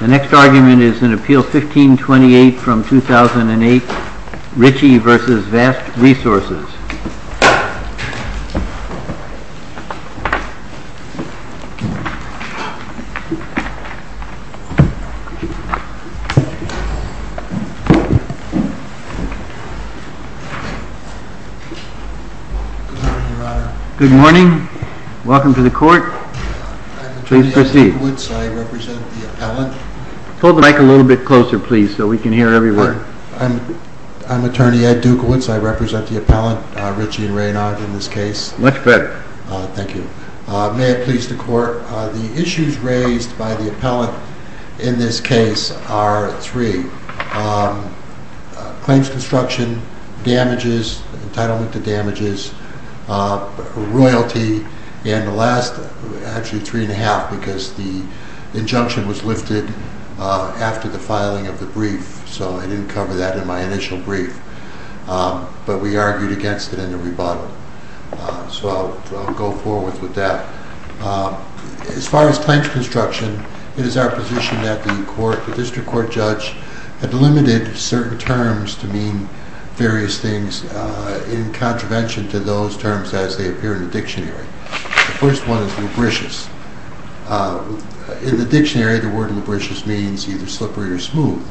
The next argument is in Appeal 1528 from 2008, Ritchie v. Vast Resources. Good morning. Welcome to the court. Please proceed. I'm Ed Dukowitz. I represent the appellant. Hold the mic a little bit closer, please, so we can hear everywhere. I'm Attorney Ed Dukowitz. I represent the appellant, Ritchie v. Raynard, in this case. Much better. Thank you. May it please the court, the issues raised by the appellant in this case are three. Claims construction, damages, entitlement to damages, royalty, and the last, actually three and a half, because the injunction was lifted after the filing of the brief, so I didn't cover that in my initial brief. But we argued against it in the rebuttal, so I'll go forward with that. As far as claims construction, it is our position that the court, the district court judge, had limited certain terms to mean various things in contravention to those terms as they appear in the dictionary. The first one is lubricious. In the dictionary, the word lubricious means either slippery or smooth.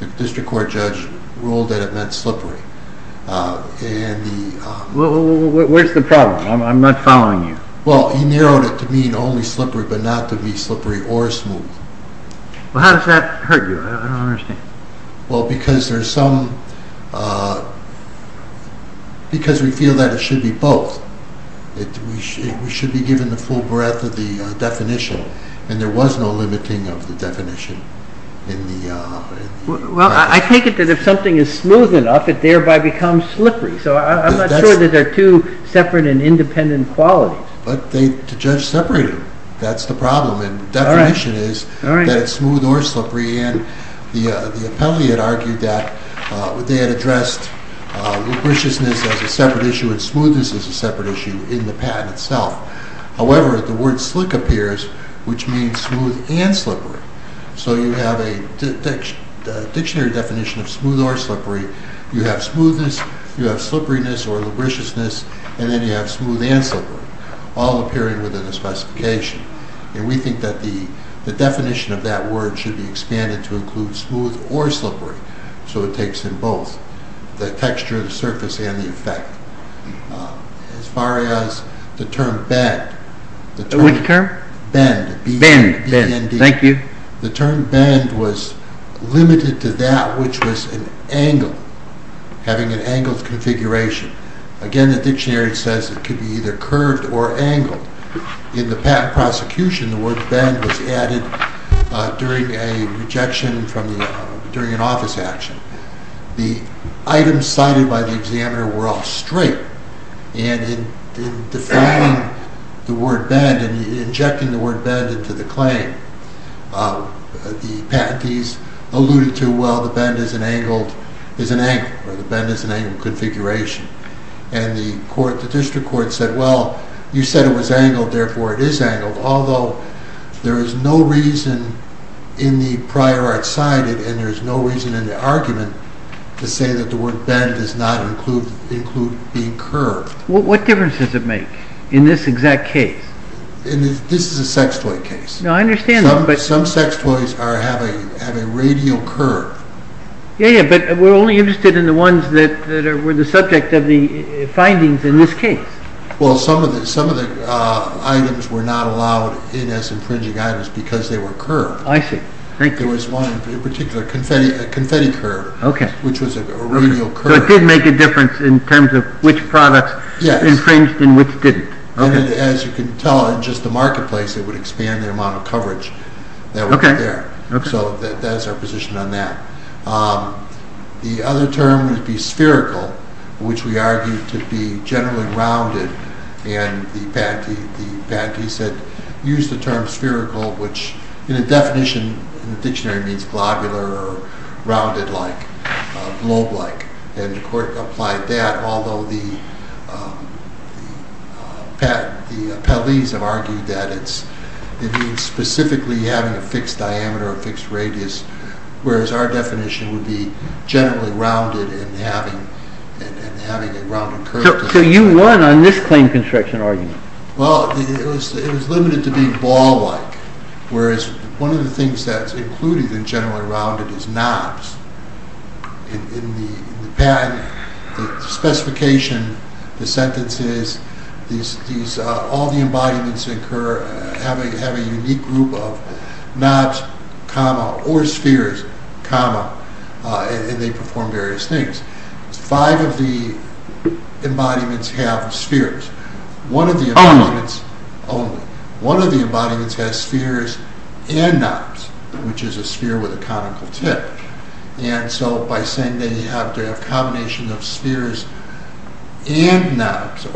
The district court judge ruled that it meant slippery. Where's the problem? I'm not following you. Well, he narrowed it to mean only slippery, but not to be slippery or smooth. Well, how does that hurt you? I don't understand. Well, because we feel that it should be both. We should be given the full breadth of the definition, and there was no limiting of the definition. Well, I take it that if something is smooth enough, it thereby becomes slippery, so I'm not sure that there are two separate and independent qualities. But the judge separated them. That's the problem. The definition is that it's smooth or slippery, and the appellee had argued that they had addressed lubriciousness as a separate issue and smoothness as a separate issue in the patent itself. However, the word slick appears, which means smooth and slippery. So you have a dictionary definition of smooth or slippery. You have smoothness, you have slipperiness or lubriciousness, and then you have smooth and slippery, all appearing within the specification. And we think that the definition of that word should be expanded to include smooth or slippery, so it takes in both the texture of the surface and the effect. As far as the term bend... Which term? Bend, B-E-N-D. Thank you. The term bend was limited to that which was an angle, having an angled configuration. Again, the dictionary says it could be either curved or angled. In the patent prosecution, the word bend was added during a rejection during an office action. The items cited by the examiner were all straight, and in defining the word bend, in injecting the word bend into the claim, the patentees alluded to, well, the bend is an angle, or the bend is an angled configuration. And the district court said, well, you said it was angled, therefore it is angled, although there is no reason in the prior art cited, and there is no reason in the argument, to say that the word bend does not include being curved. What difference does it make in this exact case? This is a sex toy case. No, I understand that, but... Some sex toys have a radial curve. Yeah, but we are only interested in the ones that were the subject of the findings in this case. Well, some of the items were not allowed in as infringing items because they were curved. I see. Thank you. There was one in particular, a confetti curve, which was a radial curve. So it did make a difference in terms of which products infringed and which didn't. As you can tell, in just the marketplace, it would expand the amount of coverage that was there. So that is our position on that. The other term would be spherical, which we argued to be generally rounded, and the patentee said, use the term spherical, which in a definition, in the dictionary means globular or rounded-like, globe-like. And the court applied that, although the appellees have argued that it means specifically having a fixed diameter or fixed radius, whereas our definition would be generally rounded and having a rounded curve. So you won on this claim construction argument. Well, it was limited to being ball-like, whereas one of the things that's included in generally rounded is knobs. In the patent, the specification, the sentences, all the embodiments have a unique group of knobs, comma, or spheres, comma, and they perform various things. Five of the embodiments have spheres. Only? Only. One of the embodiments has spheres and knobs, which is a sphere with a conical tip. And so by saying they have to have a combination of spheres and knobs...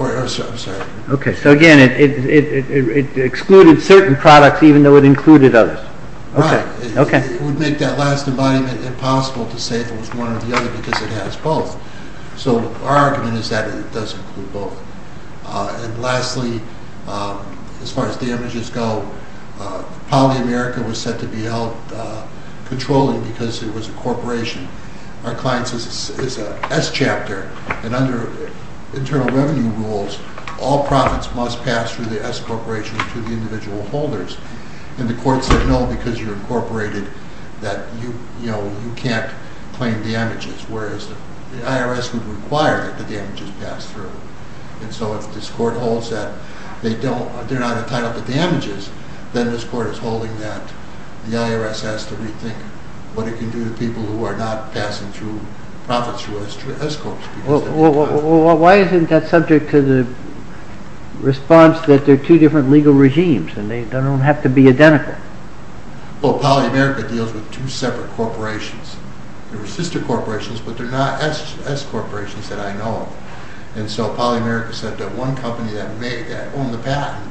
Okay, so again, it excluded certain products even though it included others. Right. It would make that last embodiment impossible to say if it was one or the other because it has both. So our argument is that it does include both. And lastly, as far as the images go, Poly America was set to be held controlling because it was a corporation. Our client says it's an S chapter, and under internal revenue rules, all profits must pass through the S corporation to the individual holders. And the court said no because you're incorporated, that you can't claim the images. Whereas the IRS would require that the images pass through. And so if this court holds that they're not entitled to the images, then this court is holding that the IRS has to rethink what it can do to people who are not passing through profits through S corps. Well, why isn't that subject to the response that they're two different legal regimes and they don't have to be identical? Well, Poly America deals with two separate corporations. They're sister corporations, but they're not S corporations that I know of. And so Poly America said that one company that owned the patent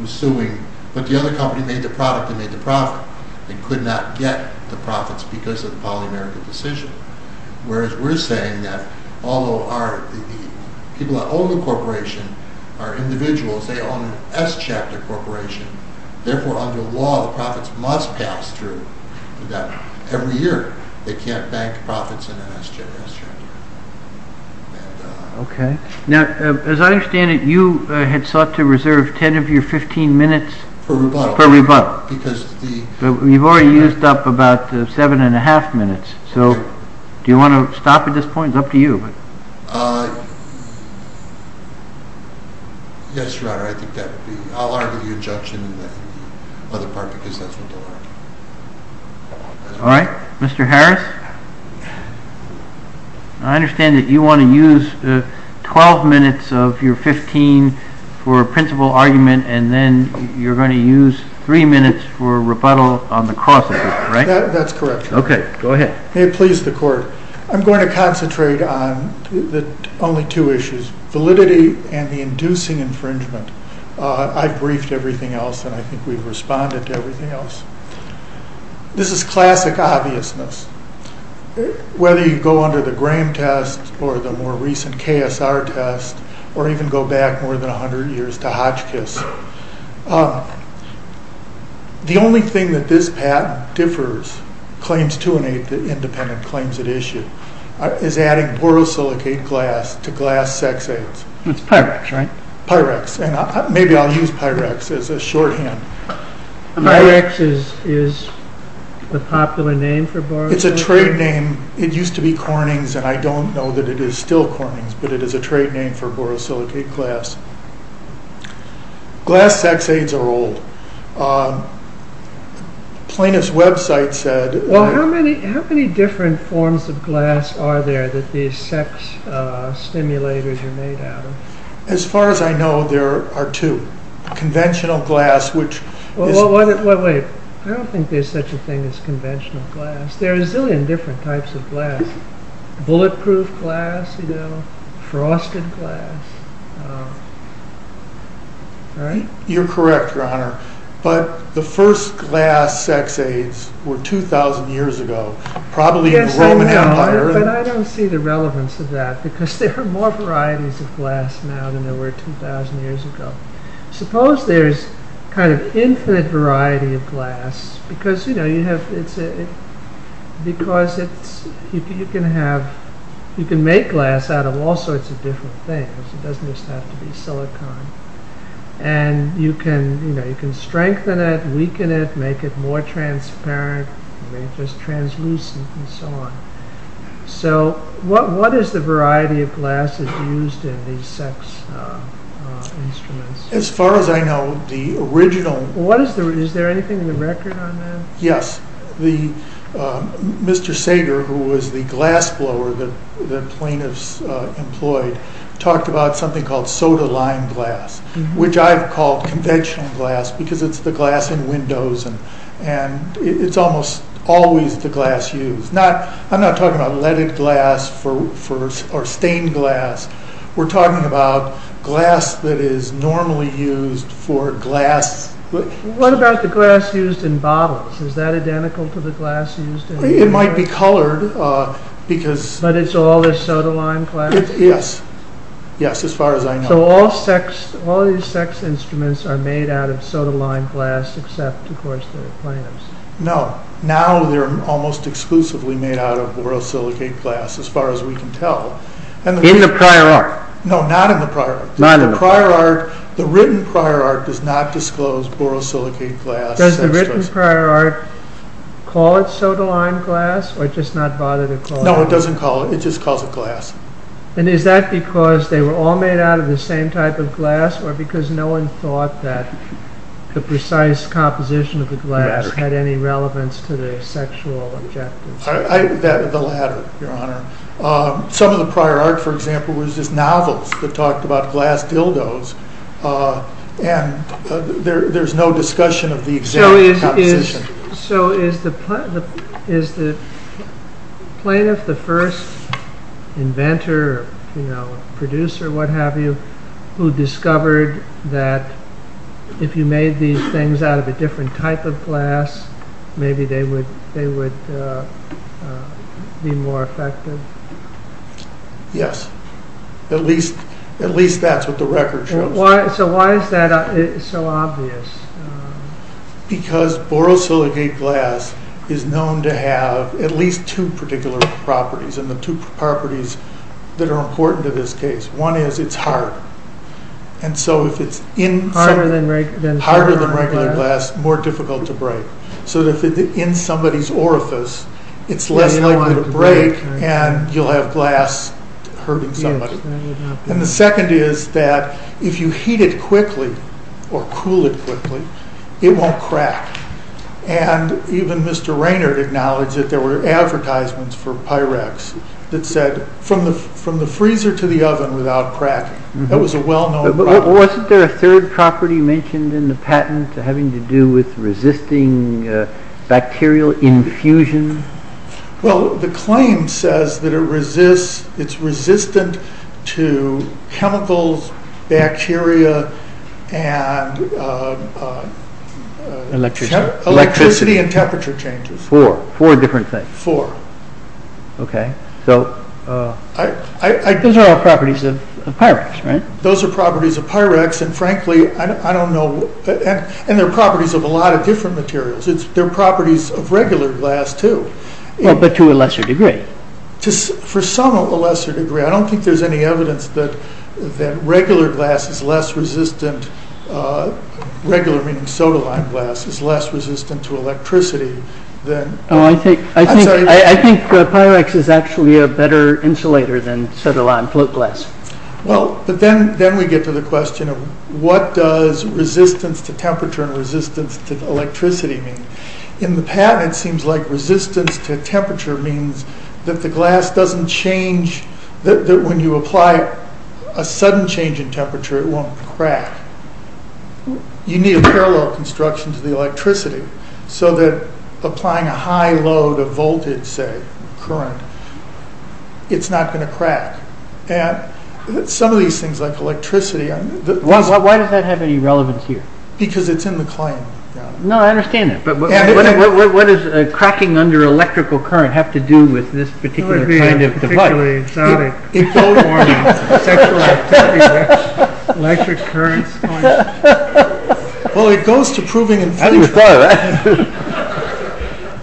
was suing, but the other company made the product and made the profit. They could not get the profits because of the Poly America decision. Whereas we're saying that although the people that own the corporation are individuals, they own an S chapter corporation. Therefore, under law, the profits must pass through. Every year they can't bank profits in an S chapter corporation. Okay. Now, as I understand it, you had sought to reserve 10 of your 15 minutes for rebuttal. You've already used up about seven and a half minutes. So do you want to stop at this point? It's up to you. Yes, Your Honor. I'll argue the injunction in the other part because that's what they'll argue. All right. Mr. Harris, I understand that you want to use 12 minutes of your 15 for a principal argument and then you're going to use three minutes for rebuttal on the cross, right? That's correct. Okay. Go ahead. May it please the court. I'm going to concentrate on only two issues, validity and the inducing infringement. I've briefed everything else and I think we've responded to everything else. This is classic obviousness. Whether you go under the Graham test or the more recent KSR test or even go back more than 100 years to Hotchkiss, the only thing that this patent differs, claims to an independent claims at issue, is adding borosilicate glass to glass sex aids. It's Pyrex, right? Pyrex. And maybe I'll use Pyrex as a shorthand. Pyrex is the popular name for borosilicate? It's a trade name. It used to be Corning's and I don't know that it is still Corning's, but it is a trade name for borosilicate glass. Glass sex aids are old. Plaintiff's website said... Well, how many different forms of glass are there that these sex stimulators are made out of? As far as I know, there are two. Conventional glass, which... Well, wait. I don't think there's such a thing as conventional glass. There are a zillion different types of glass. Bulletproof glass, frosted glass. You're correct, Your Honor, but the first glass sex aids were 2,000 years ago, probably in the Roman Empire. But I don't see the relevance of that because there are more varieties of glass now than there were 2,000 years ago. Suppose there's an infinite variety of glass because you can make glass out of all sorts of different things. It doesn't just have to be silicon. And you can strengthen it, weaken it, make it more transparent, make it translucent, and so on. So, what is the variety of glass that's used in these sex instruments? As far as I know, the original... Is there anything in the record on that? Yes. Mr. Sager, who was the glass blower that the plaintiffs employed, talked about something called soda-lime glass, which I've called conventional glass because it's the glass in windows and it's almost always the glass used. I'm not talking about leaded glass or stained glass. We're talking about glass that is normally used for glass... What about the glass used in bottles? Is that identical to the glass used in... It might be colored because... But it's all the soda-lime glass? Yes. Yes, as far as I know. So, all these sex instruments are made out of soda-lime glass except, of course, the plaintiffs. No. Now they're almost exclusively made out of borosilicate glass as far as we can tell. In the prior art? No, not in the prior art. Not in the prior art. The written prior art does not disclose borosilicate glass. Does the written prior art call it soda-lime glass or just not bother to call it? No, it doesn't call it. It just calls it glass. Because no one thought that the precise composition of the glass had any relevance to the sexual objectives. The latter, your honor. Some of the prior art, for example, was just novels that talked about glass dildos and there's no discussion of the exact composition. So, is the plaintiff the first inventor, producer, what have you, who discovered that if you made these things out of a different type of glass, maybe they would be more effective? Yes. At least that's what the record shows. So, why is that so obvious? Because borosilicate glass is known to have at least two particular properties and the two properties that are important to this case. One is it's hard. And so if it's harder than regular glass, more difficult to break. So, if it's in somebody's orifice, it's less likely to break and you'll have glass hurting somebody. And the second is that if you heat it quickly or cool it quickly, it won't crack. And even Mr. Raynard acknowledged that there were advertisements for Pyrex that said from the freezer to the oven without cracking. That was a well-known problem. Wasn't there a third property mentioned in the patent having to do with resisting bacterial infusion? Well, the claim says that it's resistant to chemicals, bacteria, and electricity and temperature changes. Four different things. Four. Those are all properties of Pyrex, right? Those are properties of Pyrex, and frankly, I don't know. And they're properties of a lot of different materials. They're properties of regular glass, too. But to a lesser degree. For some, a lesser degree. I don't think there's any evidence that regular glass is less resistant, regular meaning sodaline glass, is less resistant to electricity. I think Pyrex is actually a better insulator than sodaline float glass. Well, but then we get to the question of what does resistance to temperature and resistance to electricity mean? In the patent, it seems like resistance to temperature means that the glass doesn't change, that when you apply a sudden change in temperature, it won't crack. You need a parallel construction to the electricity. So that applying a high load of voltage, say, current, it's not going to crack. Some of these things, like electricity... Why does that have any relevance here? Because it's in the claim. No, I understand that. But what does cracking under electrical current have to do with this particular kind of device? It would be particularly exotic. It goes to proving infringement.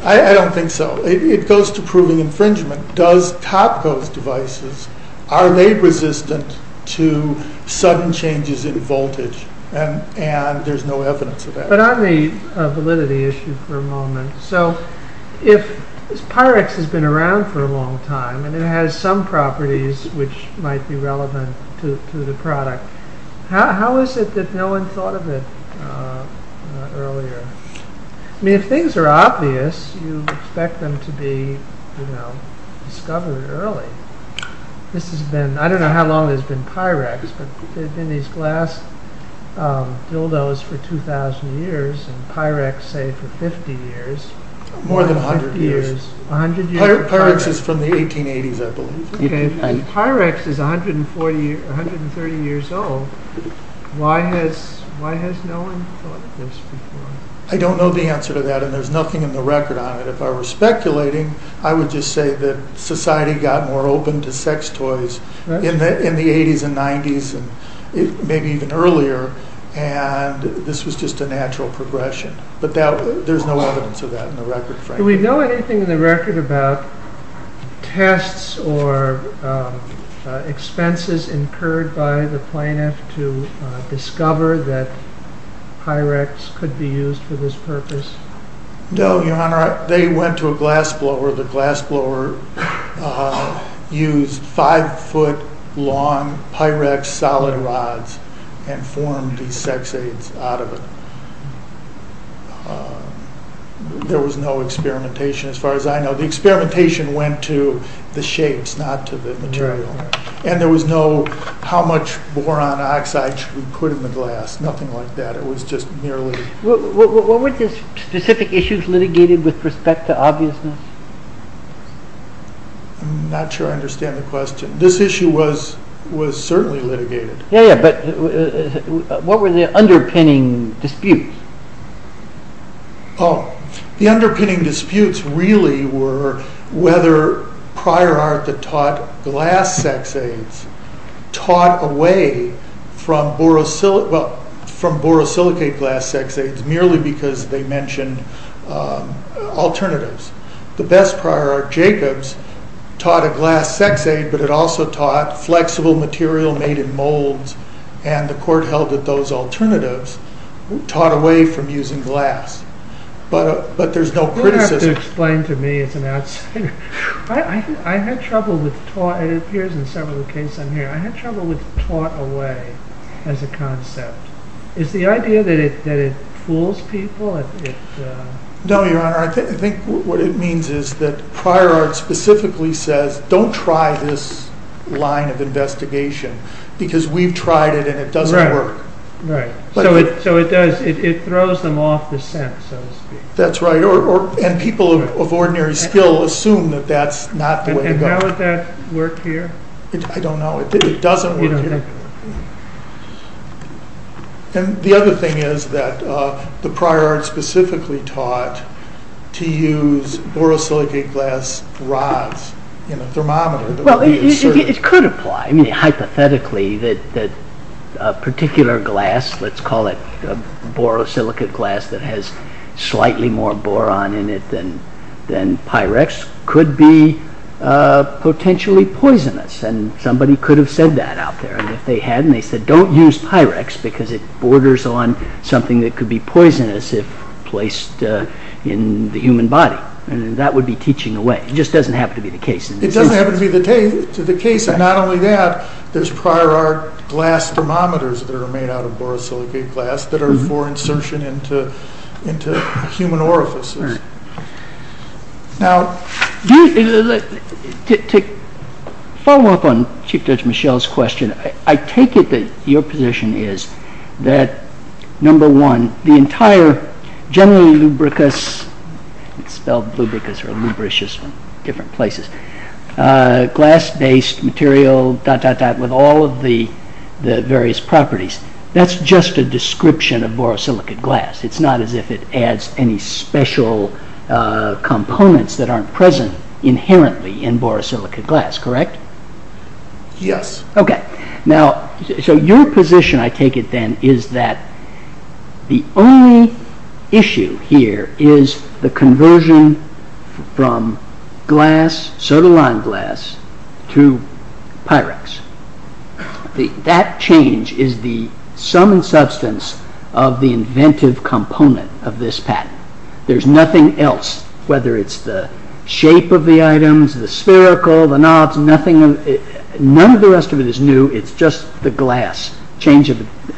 I don't think so. It goes to proving infringement. And does top-ghost devices are they resistant to sudden changes in voltage? And there's no evidence of that. But on the validity issue for a moment, so if Pyrex has been around for a long time, and it has some properties which might be relevant to the product, how is it that no one thought of it earlier? I mean, if things are obvious, you expect them to be discovered early. I don't know how long it has been Pyrex, but there have been these glass dildos for 2,000 years, and Pyrex, say, for 50 years. More than 100 years. 100 years of Pyrex. Pyrex is from the 1880s, I believe. If Pyrex is 130 years old, why has no one thought of this before? I don't know the answer to that, and there's nothing in the record on it. If I were speculating, I would just say that society got more open to sex toys in the 80s and 90s, and maybe even earlier, and this was just a natural progression. But there's no evidence of that in the record, frankly. Do we know anything in the record about tests or expenses incurred by the plaintiff to discover that Pyrex could be used for this purpose? No, Your Honor. They went to a glass blower. The glass blower used 5-foot-long Pyrex solid rods and formed these sex aids out of it. There was no experimentation as far as I know. The experimentation went to the shapes, not to the material, and there was no how much boron oxide should we put in the glass. Nothing like that. It was just merely... Were there specific issues litigated with respect to obviousness? I'm not sure I understand the question. This issue was certainly litigated. What were the underpinning disputes? The underpinning disputes really were whether prior art that taught glass sex aids taught away from borosilicate glass sex aids, merely because they mentioned alternatives. The best prior art, Jacobs, taught a glass sex aid, but it also taught flexible material made in molds, and the court held that those alternatives taught away from using glass. But there's no criticism. You'll have to explain to me as an outsider. I had trouble with taught away as a concept. Is the idea that it fools people? No, Your Honor. I think what it means is that prior art specifically says, don't try this line of investigation because we've tried it and it doesn't work. Right. It throws them off the scent, so to speak. That's right. People of ordinary skill assume that that's not the way to go. How would that work here? I don't know. It doesn't work here. The other thing is that the prior art specifically taught to use borosilicate glass rods in a thermometer. It could apply. Hypothetically, a particular glass, let's call it borosilicate glass that has slightly more boron in it than Pyrex, could be potentially poisonous. Somebody could have said that out there. If they hadn't, they said, don't use Pyrex because it borders on something that could be poisonous if placed in the human body. That would be teaching away. It just doesn't happen to be the case. It doesn't happen to be the case. Not only that, there's prior art glass thermometers that are made out of borosilicate glass that are for insertion into human orifices. Right. To follow up on Chief Judge Michel's question, I take it that your position is that, number one, the entire generally lubricous, glass-based material, dot, dot, dot, with all of the various properties, that's just a description of borosilicate glass. It's not as if it adds any special components that aren't present inherently in borosilicate glass, correct? Yes. Okay. Now, so your position, I take it then, is that the only issue here is the conversion from glass, sodaline glass, to Pyrex. That change is the sum and substance of the inventive component of this patent. There's nothing else, whether it's the shape of the items, the spherical, the knobs, nothing. None of the rest of it is new. It's just the glass, change it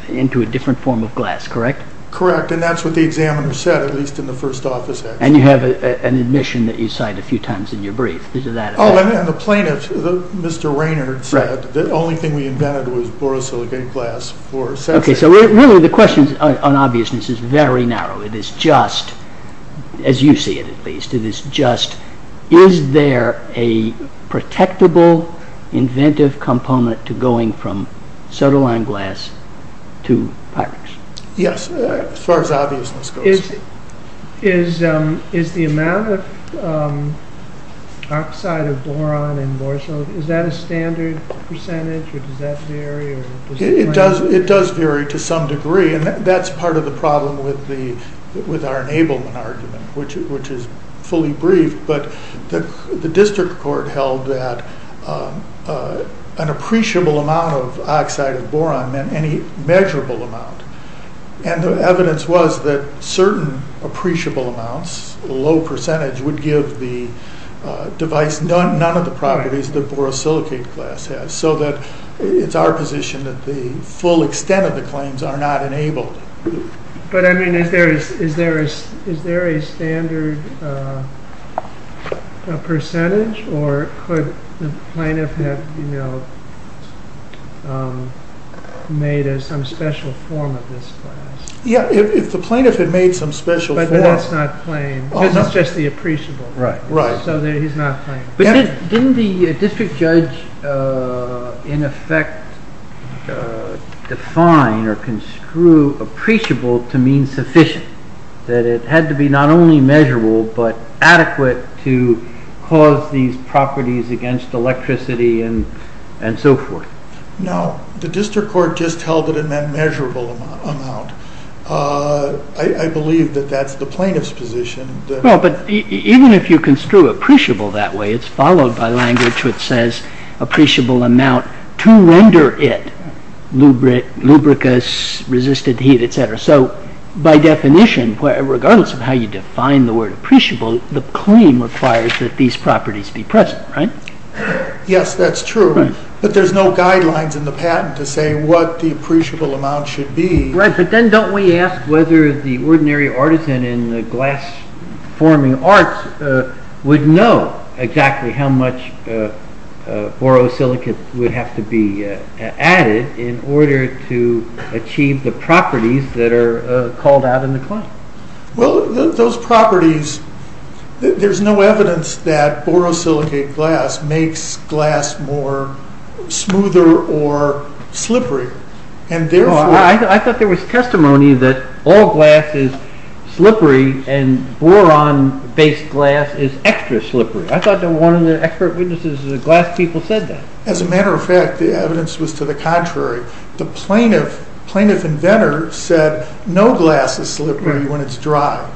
into a different form of glass, correct? Correct, and that's what the examiner said, at least in the first office. And you have an admission that you cite a few times in your brief. Oh, and the plaintiff, Mr. Raynard, said the only thing we invented was borosilicate glass. Okay, so really the question on obviousness is very narrow. It is just, as you see it at least, it is just, is there a protectable inventive component to going from sodaline glass to Pyrex? Yes, as far as obviousness goes. Is the amount of oxide of boron in borosilicate, is that a standard percentage, or does that vary? It does vary to some degree, and that's part of the problem with our enablement argument, which is fully briefed. But the district court held that an appreciable amount of oxide of boron meant any measurable amount. And the evidence was that certain appreciable amounts, a low percentage, would give the device none of the properties that borosilicate glass has, so that it's our position that the full extent of the claims are not enabled. But, I mean, is there a standard percentage, or could the plaintiff have made some special form of this glass? Yeah, if the plaintiff had made some special form. But that's not claimed, because it's just the appreciable. Right. So he's not claimed. But didn't the district judge, in effect, define or construe appreciable to mean sufficient, that it had to be not only measurable, but adequate to cause these properties against electricity and so forth? No, the district court just held that it meant measurable amount. I believe that that's the plaintiff's position. Well, but even if you construe appreciable that way, it's followed by language which says appreciable amount to render it lubricous, resisted heat, etc. So, by definition, regardless of how you define the word appreciable, the claim requires that these properties be present, right? Yes, that's true. But there's no guidelines in the patent to say what the appreciable amount should be. Right, but then don't we ask whether the ordinary artisan in the glass forming arts would know exactly how much borosilicate would have to be added in order to achieve the properties that are called out in the claim? Well, those properties, there's no evidence that borosilicate glass makes glass more smoother or slippery. I thought there was testimony that all glass is slippery and boron-based glass is extra slippery. I thought that one of the expert witnesses of the glass people said that. As a matter of fact, the evidence was to the contrary. The plaintiff inventor said no glass is slippery when it's dry.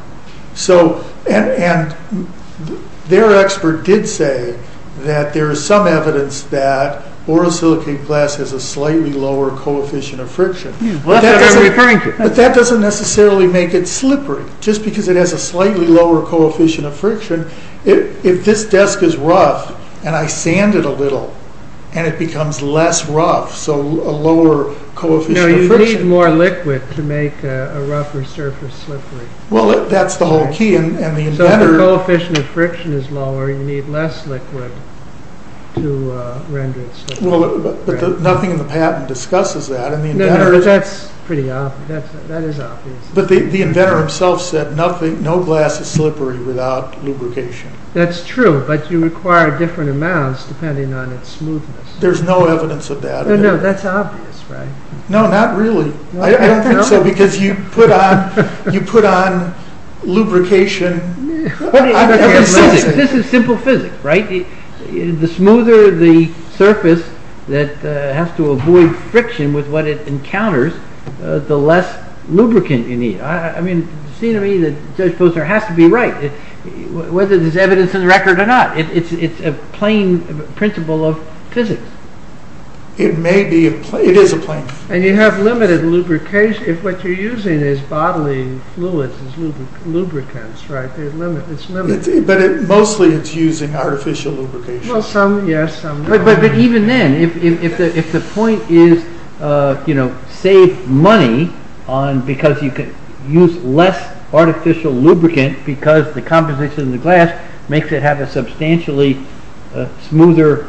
Their expert did say that there is some evidence that borosilicate glass has a slightly lower coefficient of friction. But that doesn't necessarily make it slippery. Just because it has a slightly lower coefficient of friction, if this desk is rough and I sand it a little and it becomes less rough, so a lower coefficient of friction. No, you need more liquid to make a rougher surface slippery. Well, that's the whole key. So if the coefficient of friction is lower, you need less liquid to render it slippery. But nothing in the patent discusses that. No, no, that's pretty obvious. That is obvious. But the inventor himself said no glass is slippery without lubrication. That's true, but you require different amounts depending on its smoothness. There's no evidence of that. No, no, that's obvious, right? No, not really. I don't think so, because you put on lubrication. This is simple physics, right? The smoother the surface that has to avoid friction with what it encounters, the less lubricant you need. I mean, it seems to me that Judge Posner has to be right, whether there's evidence in the record or not. It's a plain principle of physics. It may be. It is a plain principle. And you have limited lubrication. If what you're using is bodily fluids, it's lubricants, right? It's limited. But mostly it's using artificial lubrication. Well, some, yes. But even then, if the point is, you know, save money because you can use less artificial lubricant because the composition of the glass makes it have a substantially smoother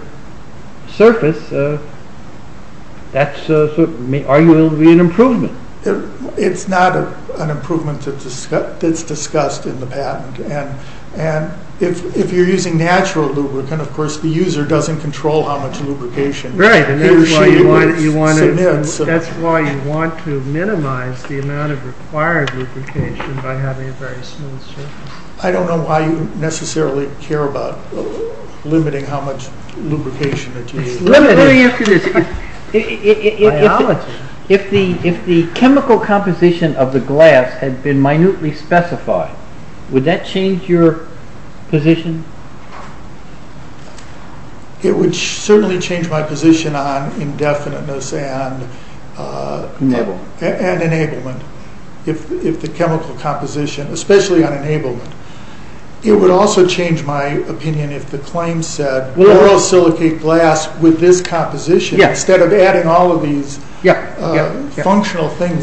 surface, that's arguably an improvement. It's not an improvement that's discussed in the patent. And if you're using natural lubricant, of course, the user doesn't control how much lubrication he or she submits. Right, and that's why you want to minimize the amount of required lubrication by having a very smooth surface. I don't know why you necessarily care about limiting how much lubrication that you use. If the chemical composition of the glass had been minutely specified, would that change your position? It would certainly change my position on indefiniteness and enablement, if the chemical composition, especially on enablement. It would also change my opinion if the claim said borosilicate glass with this composition instead of adding all of these functional things.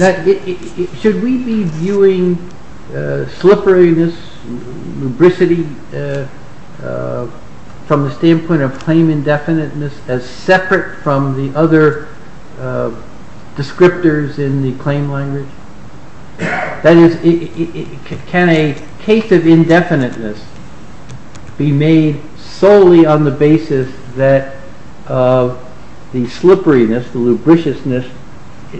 Should we be viewing slipperiness, lubricity, from the standpoint of claim indefiniteness as separate from the other descriptors in the claim language? That is, can a case of indefiniteness be made solely on the basis that the slipperiness, the lubriciousness,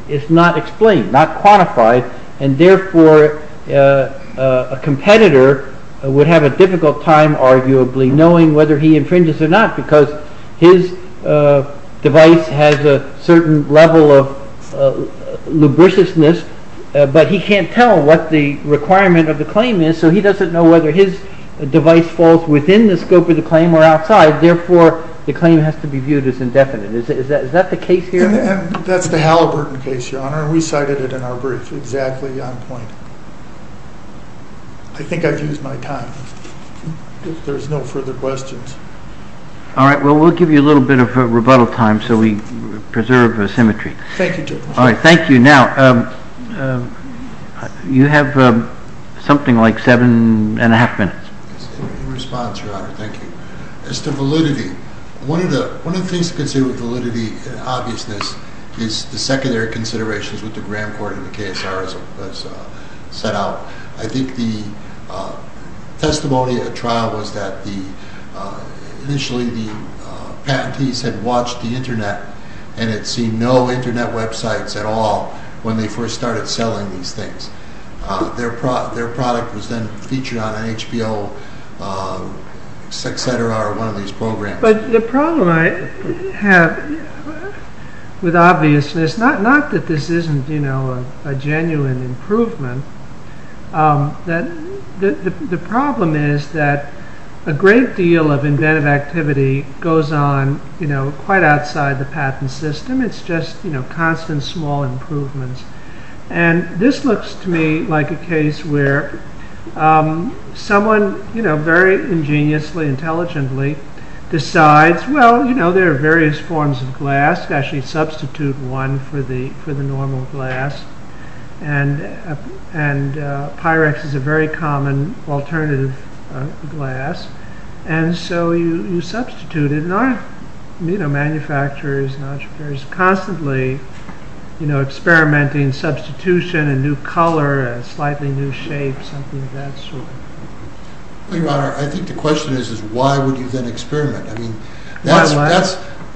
is not explained, not quantified, and therefore a competitor would have a difficult time, arguably, knowing whether he infringes or not, because his device has a certain level of lubriciousness, but he can't tell what the requirement of the claim is, so he doesn't know whether his device falls within the scope of the claim or outside. Therefore, the claim has to be viewed as indefinite. Is that the case here? That's the Halliburton case, Your Honor, and we cited it in our brief. Exactly on point. I think I've used my time. If there's no further questions. All right. Well, we'll give you a little bit of rebuttal time so we preserve symmetry. Thank you, Judge. All right. Thank you. Now, you have something like seven and a half minutes. In response, Your Honor. Thank you. As to validity, one of the things to consider with validity and obviousness is the secondary considerations with the gram court in the case as set out. I think the testimony at trial was that initially the patentees had watched the Internet and had seen no Internet websites at all when they first started selling these things. Their product was then featured on an HBO, et cetera, one of these programs. But the problem I have with obviousness, not that this isn't a genuine improvement. The problem is that a great deal of inventive activity goes on quite outside the patent system. It's just constant small improvements. And this looks to me like a case where someone very ingeniously, intelligently decides, well, there are various forms of glass. Actually, substitute one for the normal glass. And Pyrex is a very common alternative glass. And so you substitute it. And our manufacturers and entrepreneurs are constantly experimenting substitution, a new color, a slightly new shape, something of that sort. Your Honor, I think the question is, why would you then experiment?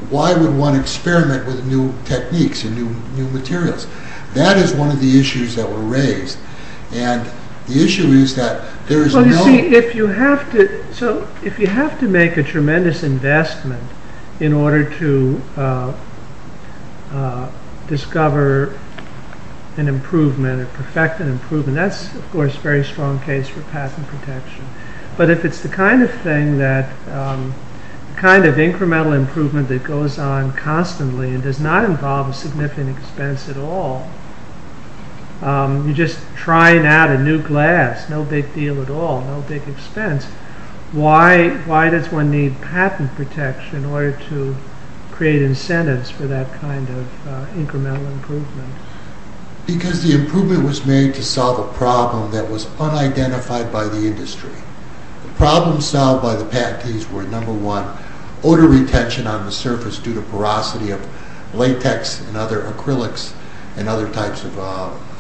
Why would one experiment with new techniques and new materials? That is one of the issues that were raised. And the issue is that there is no... So if you have to make a tremendous investment in order to discover an improvement or perfect an improvement, that's, of course, a very strong case for patent protection. But if it's the kind of thing that... the kind of incremental improvement that goes on constantly and does not involve a significant expense at all, you're just trying out a new glass. No big deal at all. No big expense. Why does one need patent protection in order to create incentives for that kind of incremental improvement? Because the improvement was made to solve a problem that was unidentified by the industry. The problems solved by the patentees were, number one, odor retention on the surface due to porosity of latex and other acrylics and other types of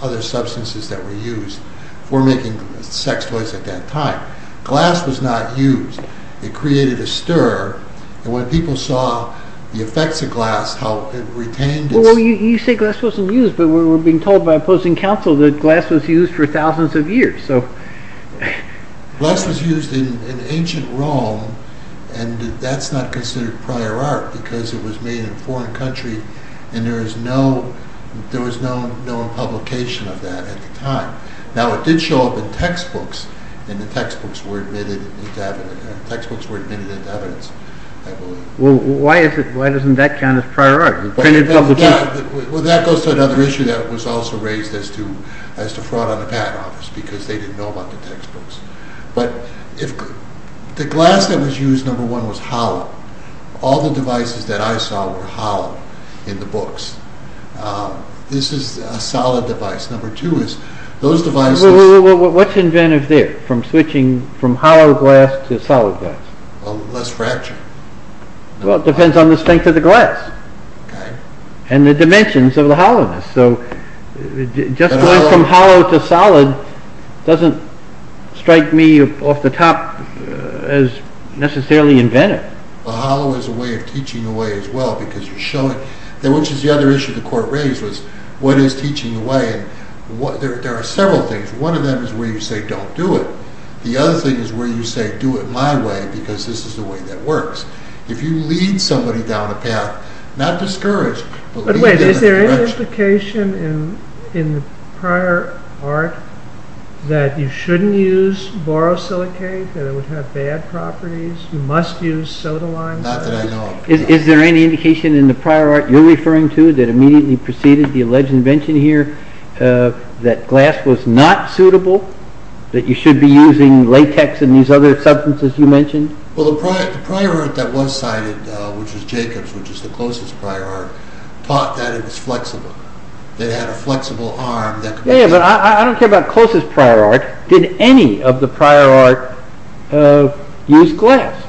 other substances that were used for making sex toys at that time. Glass was not used. It created a stir. And when people saw the effects of glass, how it retained its... Well, you say glass wasn't used, but we're being told by opposing counsel that glass was used for thousands of years. Glass was used in ancient Rome. And that's not considered prior art because it was made in a foreign country and there was no publication of that at the time. Now, it did show up in textbooks, and the textbooks were admitted into evidence, I believe. Well, why doesn't that count as prior art? Well, that goes to another issue that was also raised as to fraud on the patent office because they didn't know about the textbooks. But the glass that was used, number one, was hollow. All the devices that I saw were hollow in the books. This is a solid device. Number two is those devices... Well, what's inventive there from switching from hollow glass to solid glass? Well, less fracture. Well, it depends on the strength of the glass and the dimensions of the hollowness. So just going from hollow to solid doesn't strike me off the top as necessarily inventive. Well, hollow is a way of teaching away as well because you're showing... Which is the other issue the court raised was what is teaching away? There are several things. One of them is where you say, don't do it. The other thing is where you say, do it my way because this is the way that works. If you lead somebody down a path, not discourage, but lead them in the direction... By the way, is there any indication in the prior art that you shouldn't use borosilicate, that it would have bad properties? You must use sodalime? Not that I know of. Is there any indication in the prior art you're referring to that immediately preceded the alleged invention here that glass was not suitable, that you should be using latex and these other substances you mentioned? Well, the prior art that was cited, which was Jacobs, which is the closest prior art, taught that it was flexible. They had a flexible arm that could... Yeah, but I don't care about closest prior art. Did any of the prior art use glass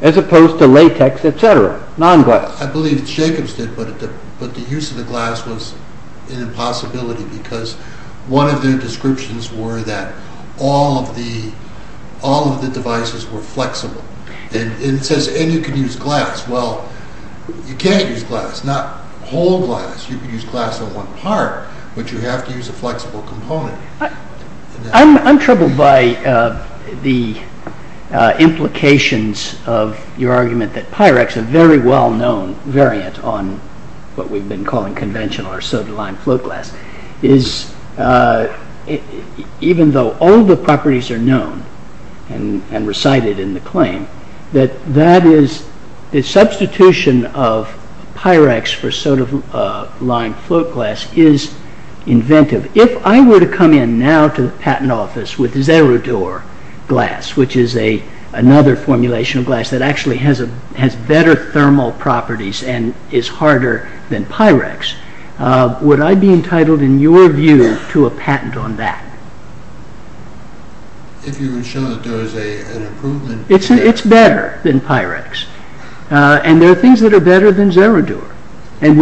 as opposed to latex, etc., non-glass? I believe Jacobs did, but the use of the glass was an impossibility because one of their descriptions were that all of the devices were flexible. It says, and you can use glass. Well, you can't use glass, not whole glass. You can use glass in one part, but you have to use a flexible component. I'm troubled by the implications of your argument that Pyrex, a very well-known variant on what we've been calling conventional or soda-lime float glass, is, even though all the properties are known and recited in the claim, that that is the substitution of Pyrex for soda-lime float glass is inventive. If I were to come in now to the patent office with Zerodur glass, which is another formulation of glass that actually has better thermal properties and is harder than Pyrex, would I be entitled, in your view, to a patent on that? If you were to show that there was an improvement... It's better than Pyrex, and there are things that are better than Zerodur, and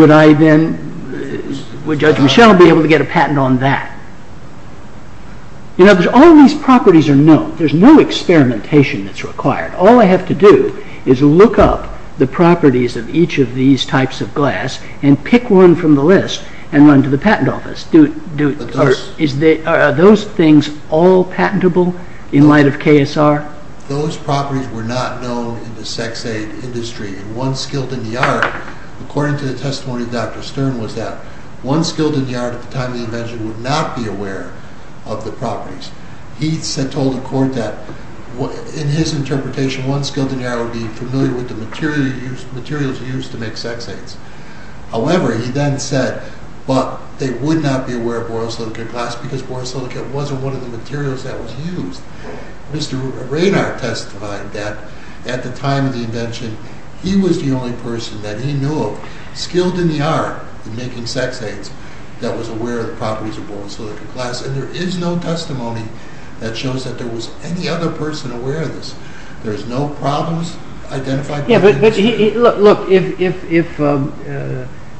would Judge Michel be able to get a patent on that? You know, all these properties are known. There's no experimentation that's required. All I have to do is look up the properties of each of these types of glass and pick one from the list and run to the patent office. Are those things all patentable in light of KSR? Those properties were not known in the sex-aid industry. One skilled in the art, according to the testimony of Dr. Stern, was that one skilled in the art at the time of the invention would not be aware of the properties. He told the court that, in his interpretation, one skilled in the art would be familiar with the materials used to make sex-aids. However, he then said they would not be aware of borosilicate glass because borosilicate wasn't one of the materials that was used. Mr. Raynard testified that, at the time of the invention, he was the only person that he knew of, skilled in the art of making sex-aids, that was aware of the properties of borosilicate glass. There is no testimony that shows that there was any other person aware of this. There's no problems identified by the industry. Yeah, but look,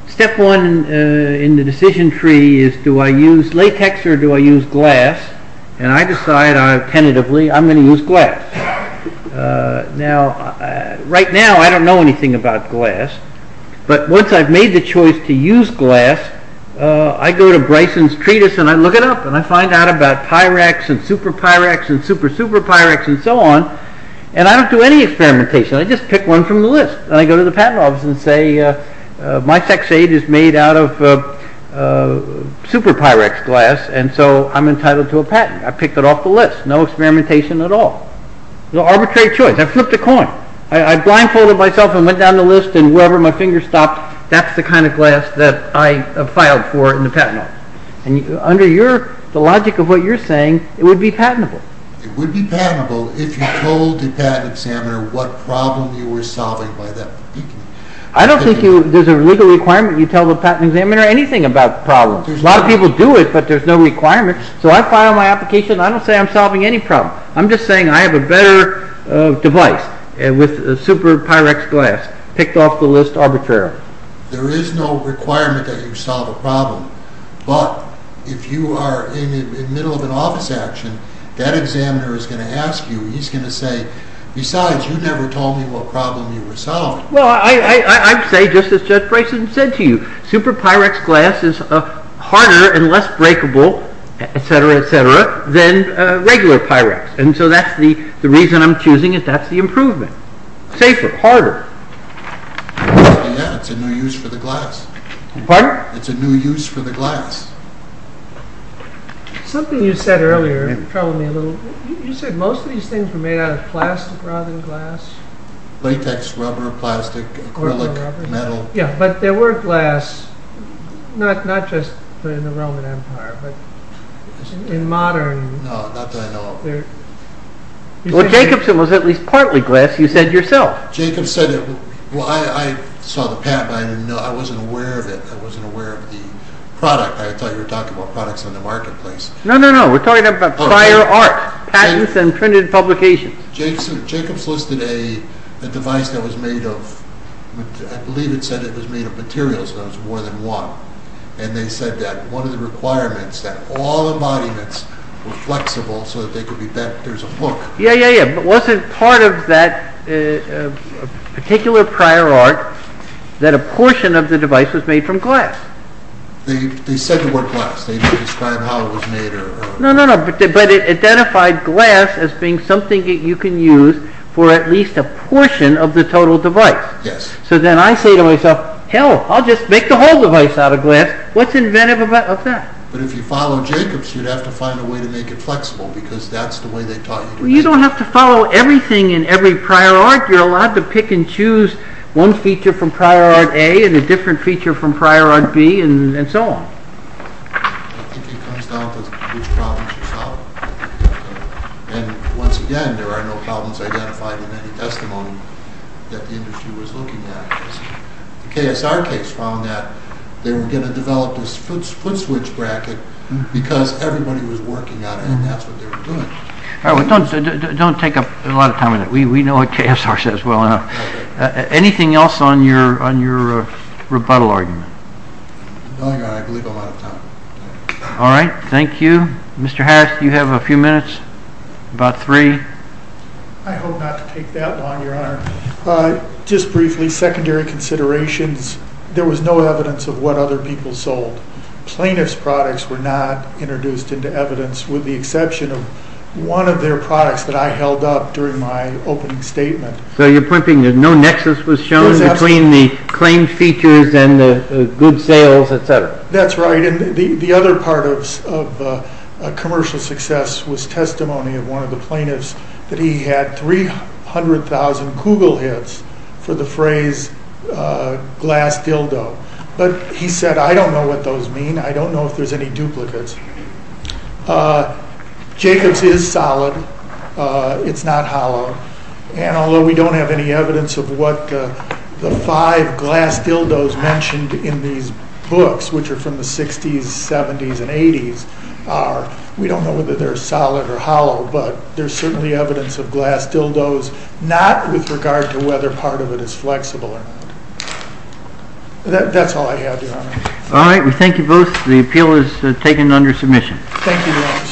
step one in the decision tree is, do I use latex or do I use glass? And I decide, tentatively, I'm going to use glass. Now, right now, I don't know anything about glass, but once I've made the choice to use glass, I go to Bryson's treatise and I look it up, and I find out about Pyrex and SuperPyrex and SuperSuperPyrex and so on, and I don't do any experimentation. I just pick one from the list, and I go to the patent office and say, my sex-aid is made out of SuperPyrex glass, and so I'm entitled to a patent. I picked it off the list. No experimentation at all. It was an arbitrary choice. I flipped a coin. I blindfolded myself and went down the list, and wherever my finger stopped, that's the kind of glass that I filed for in the patent office. And under the logic of what you're saying, it would be patentable. It would be patentable if you told the patent examiner what problem you were solving by that point. I don't think there's a legal requirement you tell the patent examiner anything about the problem. A lot of people do it, but there's no requirement, so I file my application. I don't say I'm solving any problem. I'm just saying I have a better device with SuperPyrex glass picked off the list arbitrarily. There is no requirement that you solve a problem, but if you are in the middle of an office action, that examiner is going to ask you, and he's going to say, besides, you never told me what problem you were solving. Well, I'd say just as Judge Bryson said to you, SuperPyrex glass is harder and less breakable, etc., etc., than regular Pyrex. And so that's the reason I'm choosing it. That's the improvement. Safer, harder. Yeah, it's a new use for the glass. Pardon? It's a new use for the glass. Something you said earlier troubled me a little. You said most of these things were made out of plastic rather than glass. Latex, rubber, plastic, acrylic, metal. Yeah, but there were glass, not just in the Roman Empire, but in modern... No, not that I know of. Well, Jacobson was at least partly glass, you said yourself. Jacobs said it. Well, I saw the patent, but I wasn't aware of it. I wasn't aware of the product. I thought you were talking about products in the marketplace. No, no, no, we're talking about prior art, patents and printed publications. Jacobs listed a device that was made of, I believe it said it was made of materials, but it was more than one. And they said that one of the requirements, that all embodiments were flexible so that they could be bent. There's a hook. Yeah, yeah, yeah, but wasn't part of that particular prior art that a portion of the device was made from glass? They said the word glass. They didn't describe how it was made or... No, no, no, but it identified glass as being something that you can use for at least a portion of the total device. Yes. So then I say to myself, hell, I'll just make the whole device out of glass. What's inventive about that? But if you follow Jacobs, you'd have to find a way to make it flexible because that's the way they taught you to make it. Well, you don't have to follow everything in every prior art. You're allowed to pick and choose one feature from prior art A and a different feature from prior art B and so on. I think it comes down to which problems you solve. And once again, there are no problems identified in any testimony that the industry was looking at. The KSR case found that they were going to develop this foot switch bracket because everybody was working on it and that's what they were doing. Don't take up a lot of time on that. We know what KSR says well enough. Anything else on your rebuttal argument? I believe I'm out of time. All right, thank you. Mr. Harris, you have a few minutes, about three. I hope not to take that long, Your Honor. Just briefly, secondary considerations. There was no evidence of what other people sold. Plaintiff's products were not introduced into evidence with the exception of one of their products that I held up during my opening statement. So your point being that no nexus was shown between the claimed features and the good sales, et cetera? That's right. The other part of commercial success was testimony of one of the plaintiffs that he had 300,000 Google hits for the phrase glass dildo. But he said, I don't know what those mean. I don't know if there's any duplicates. Jacobs is solid. It's not hollow. And although we don't have any evidence of what the five glass dildos mentioned in these books, which are from the 60s, 70s, and 80s are, we don't know whether they're solid or hollow, but there's certainly evidence of glass dildos, not with regard to whether part of it is flexible or not. That's all I have, Your Honor. All right, we thank you both. Thank you, Your Honor.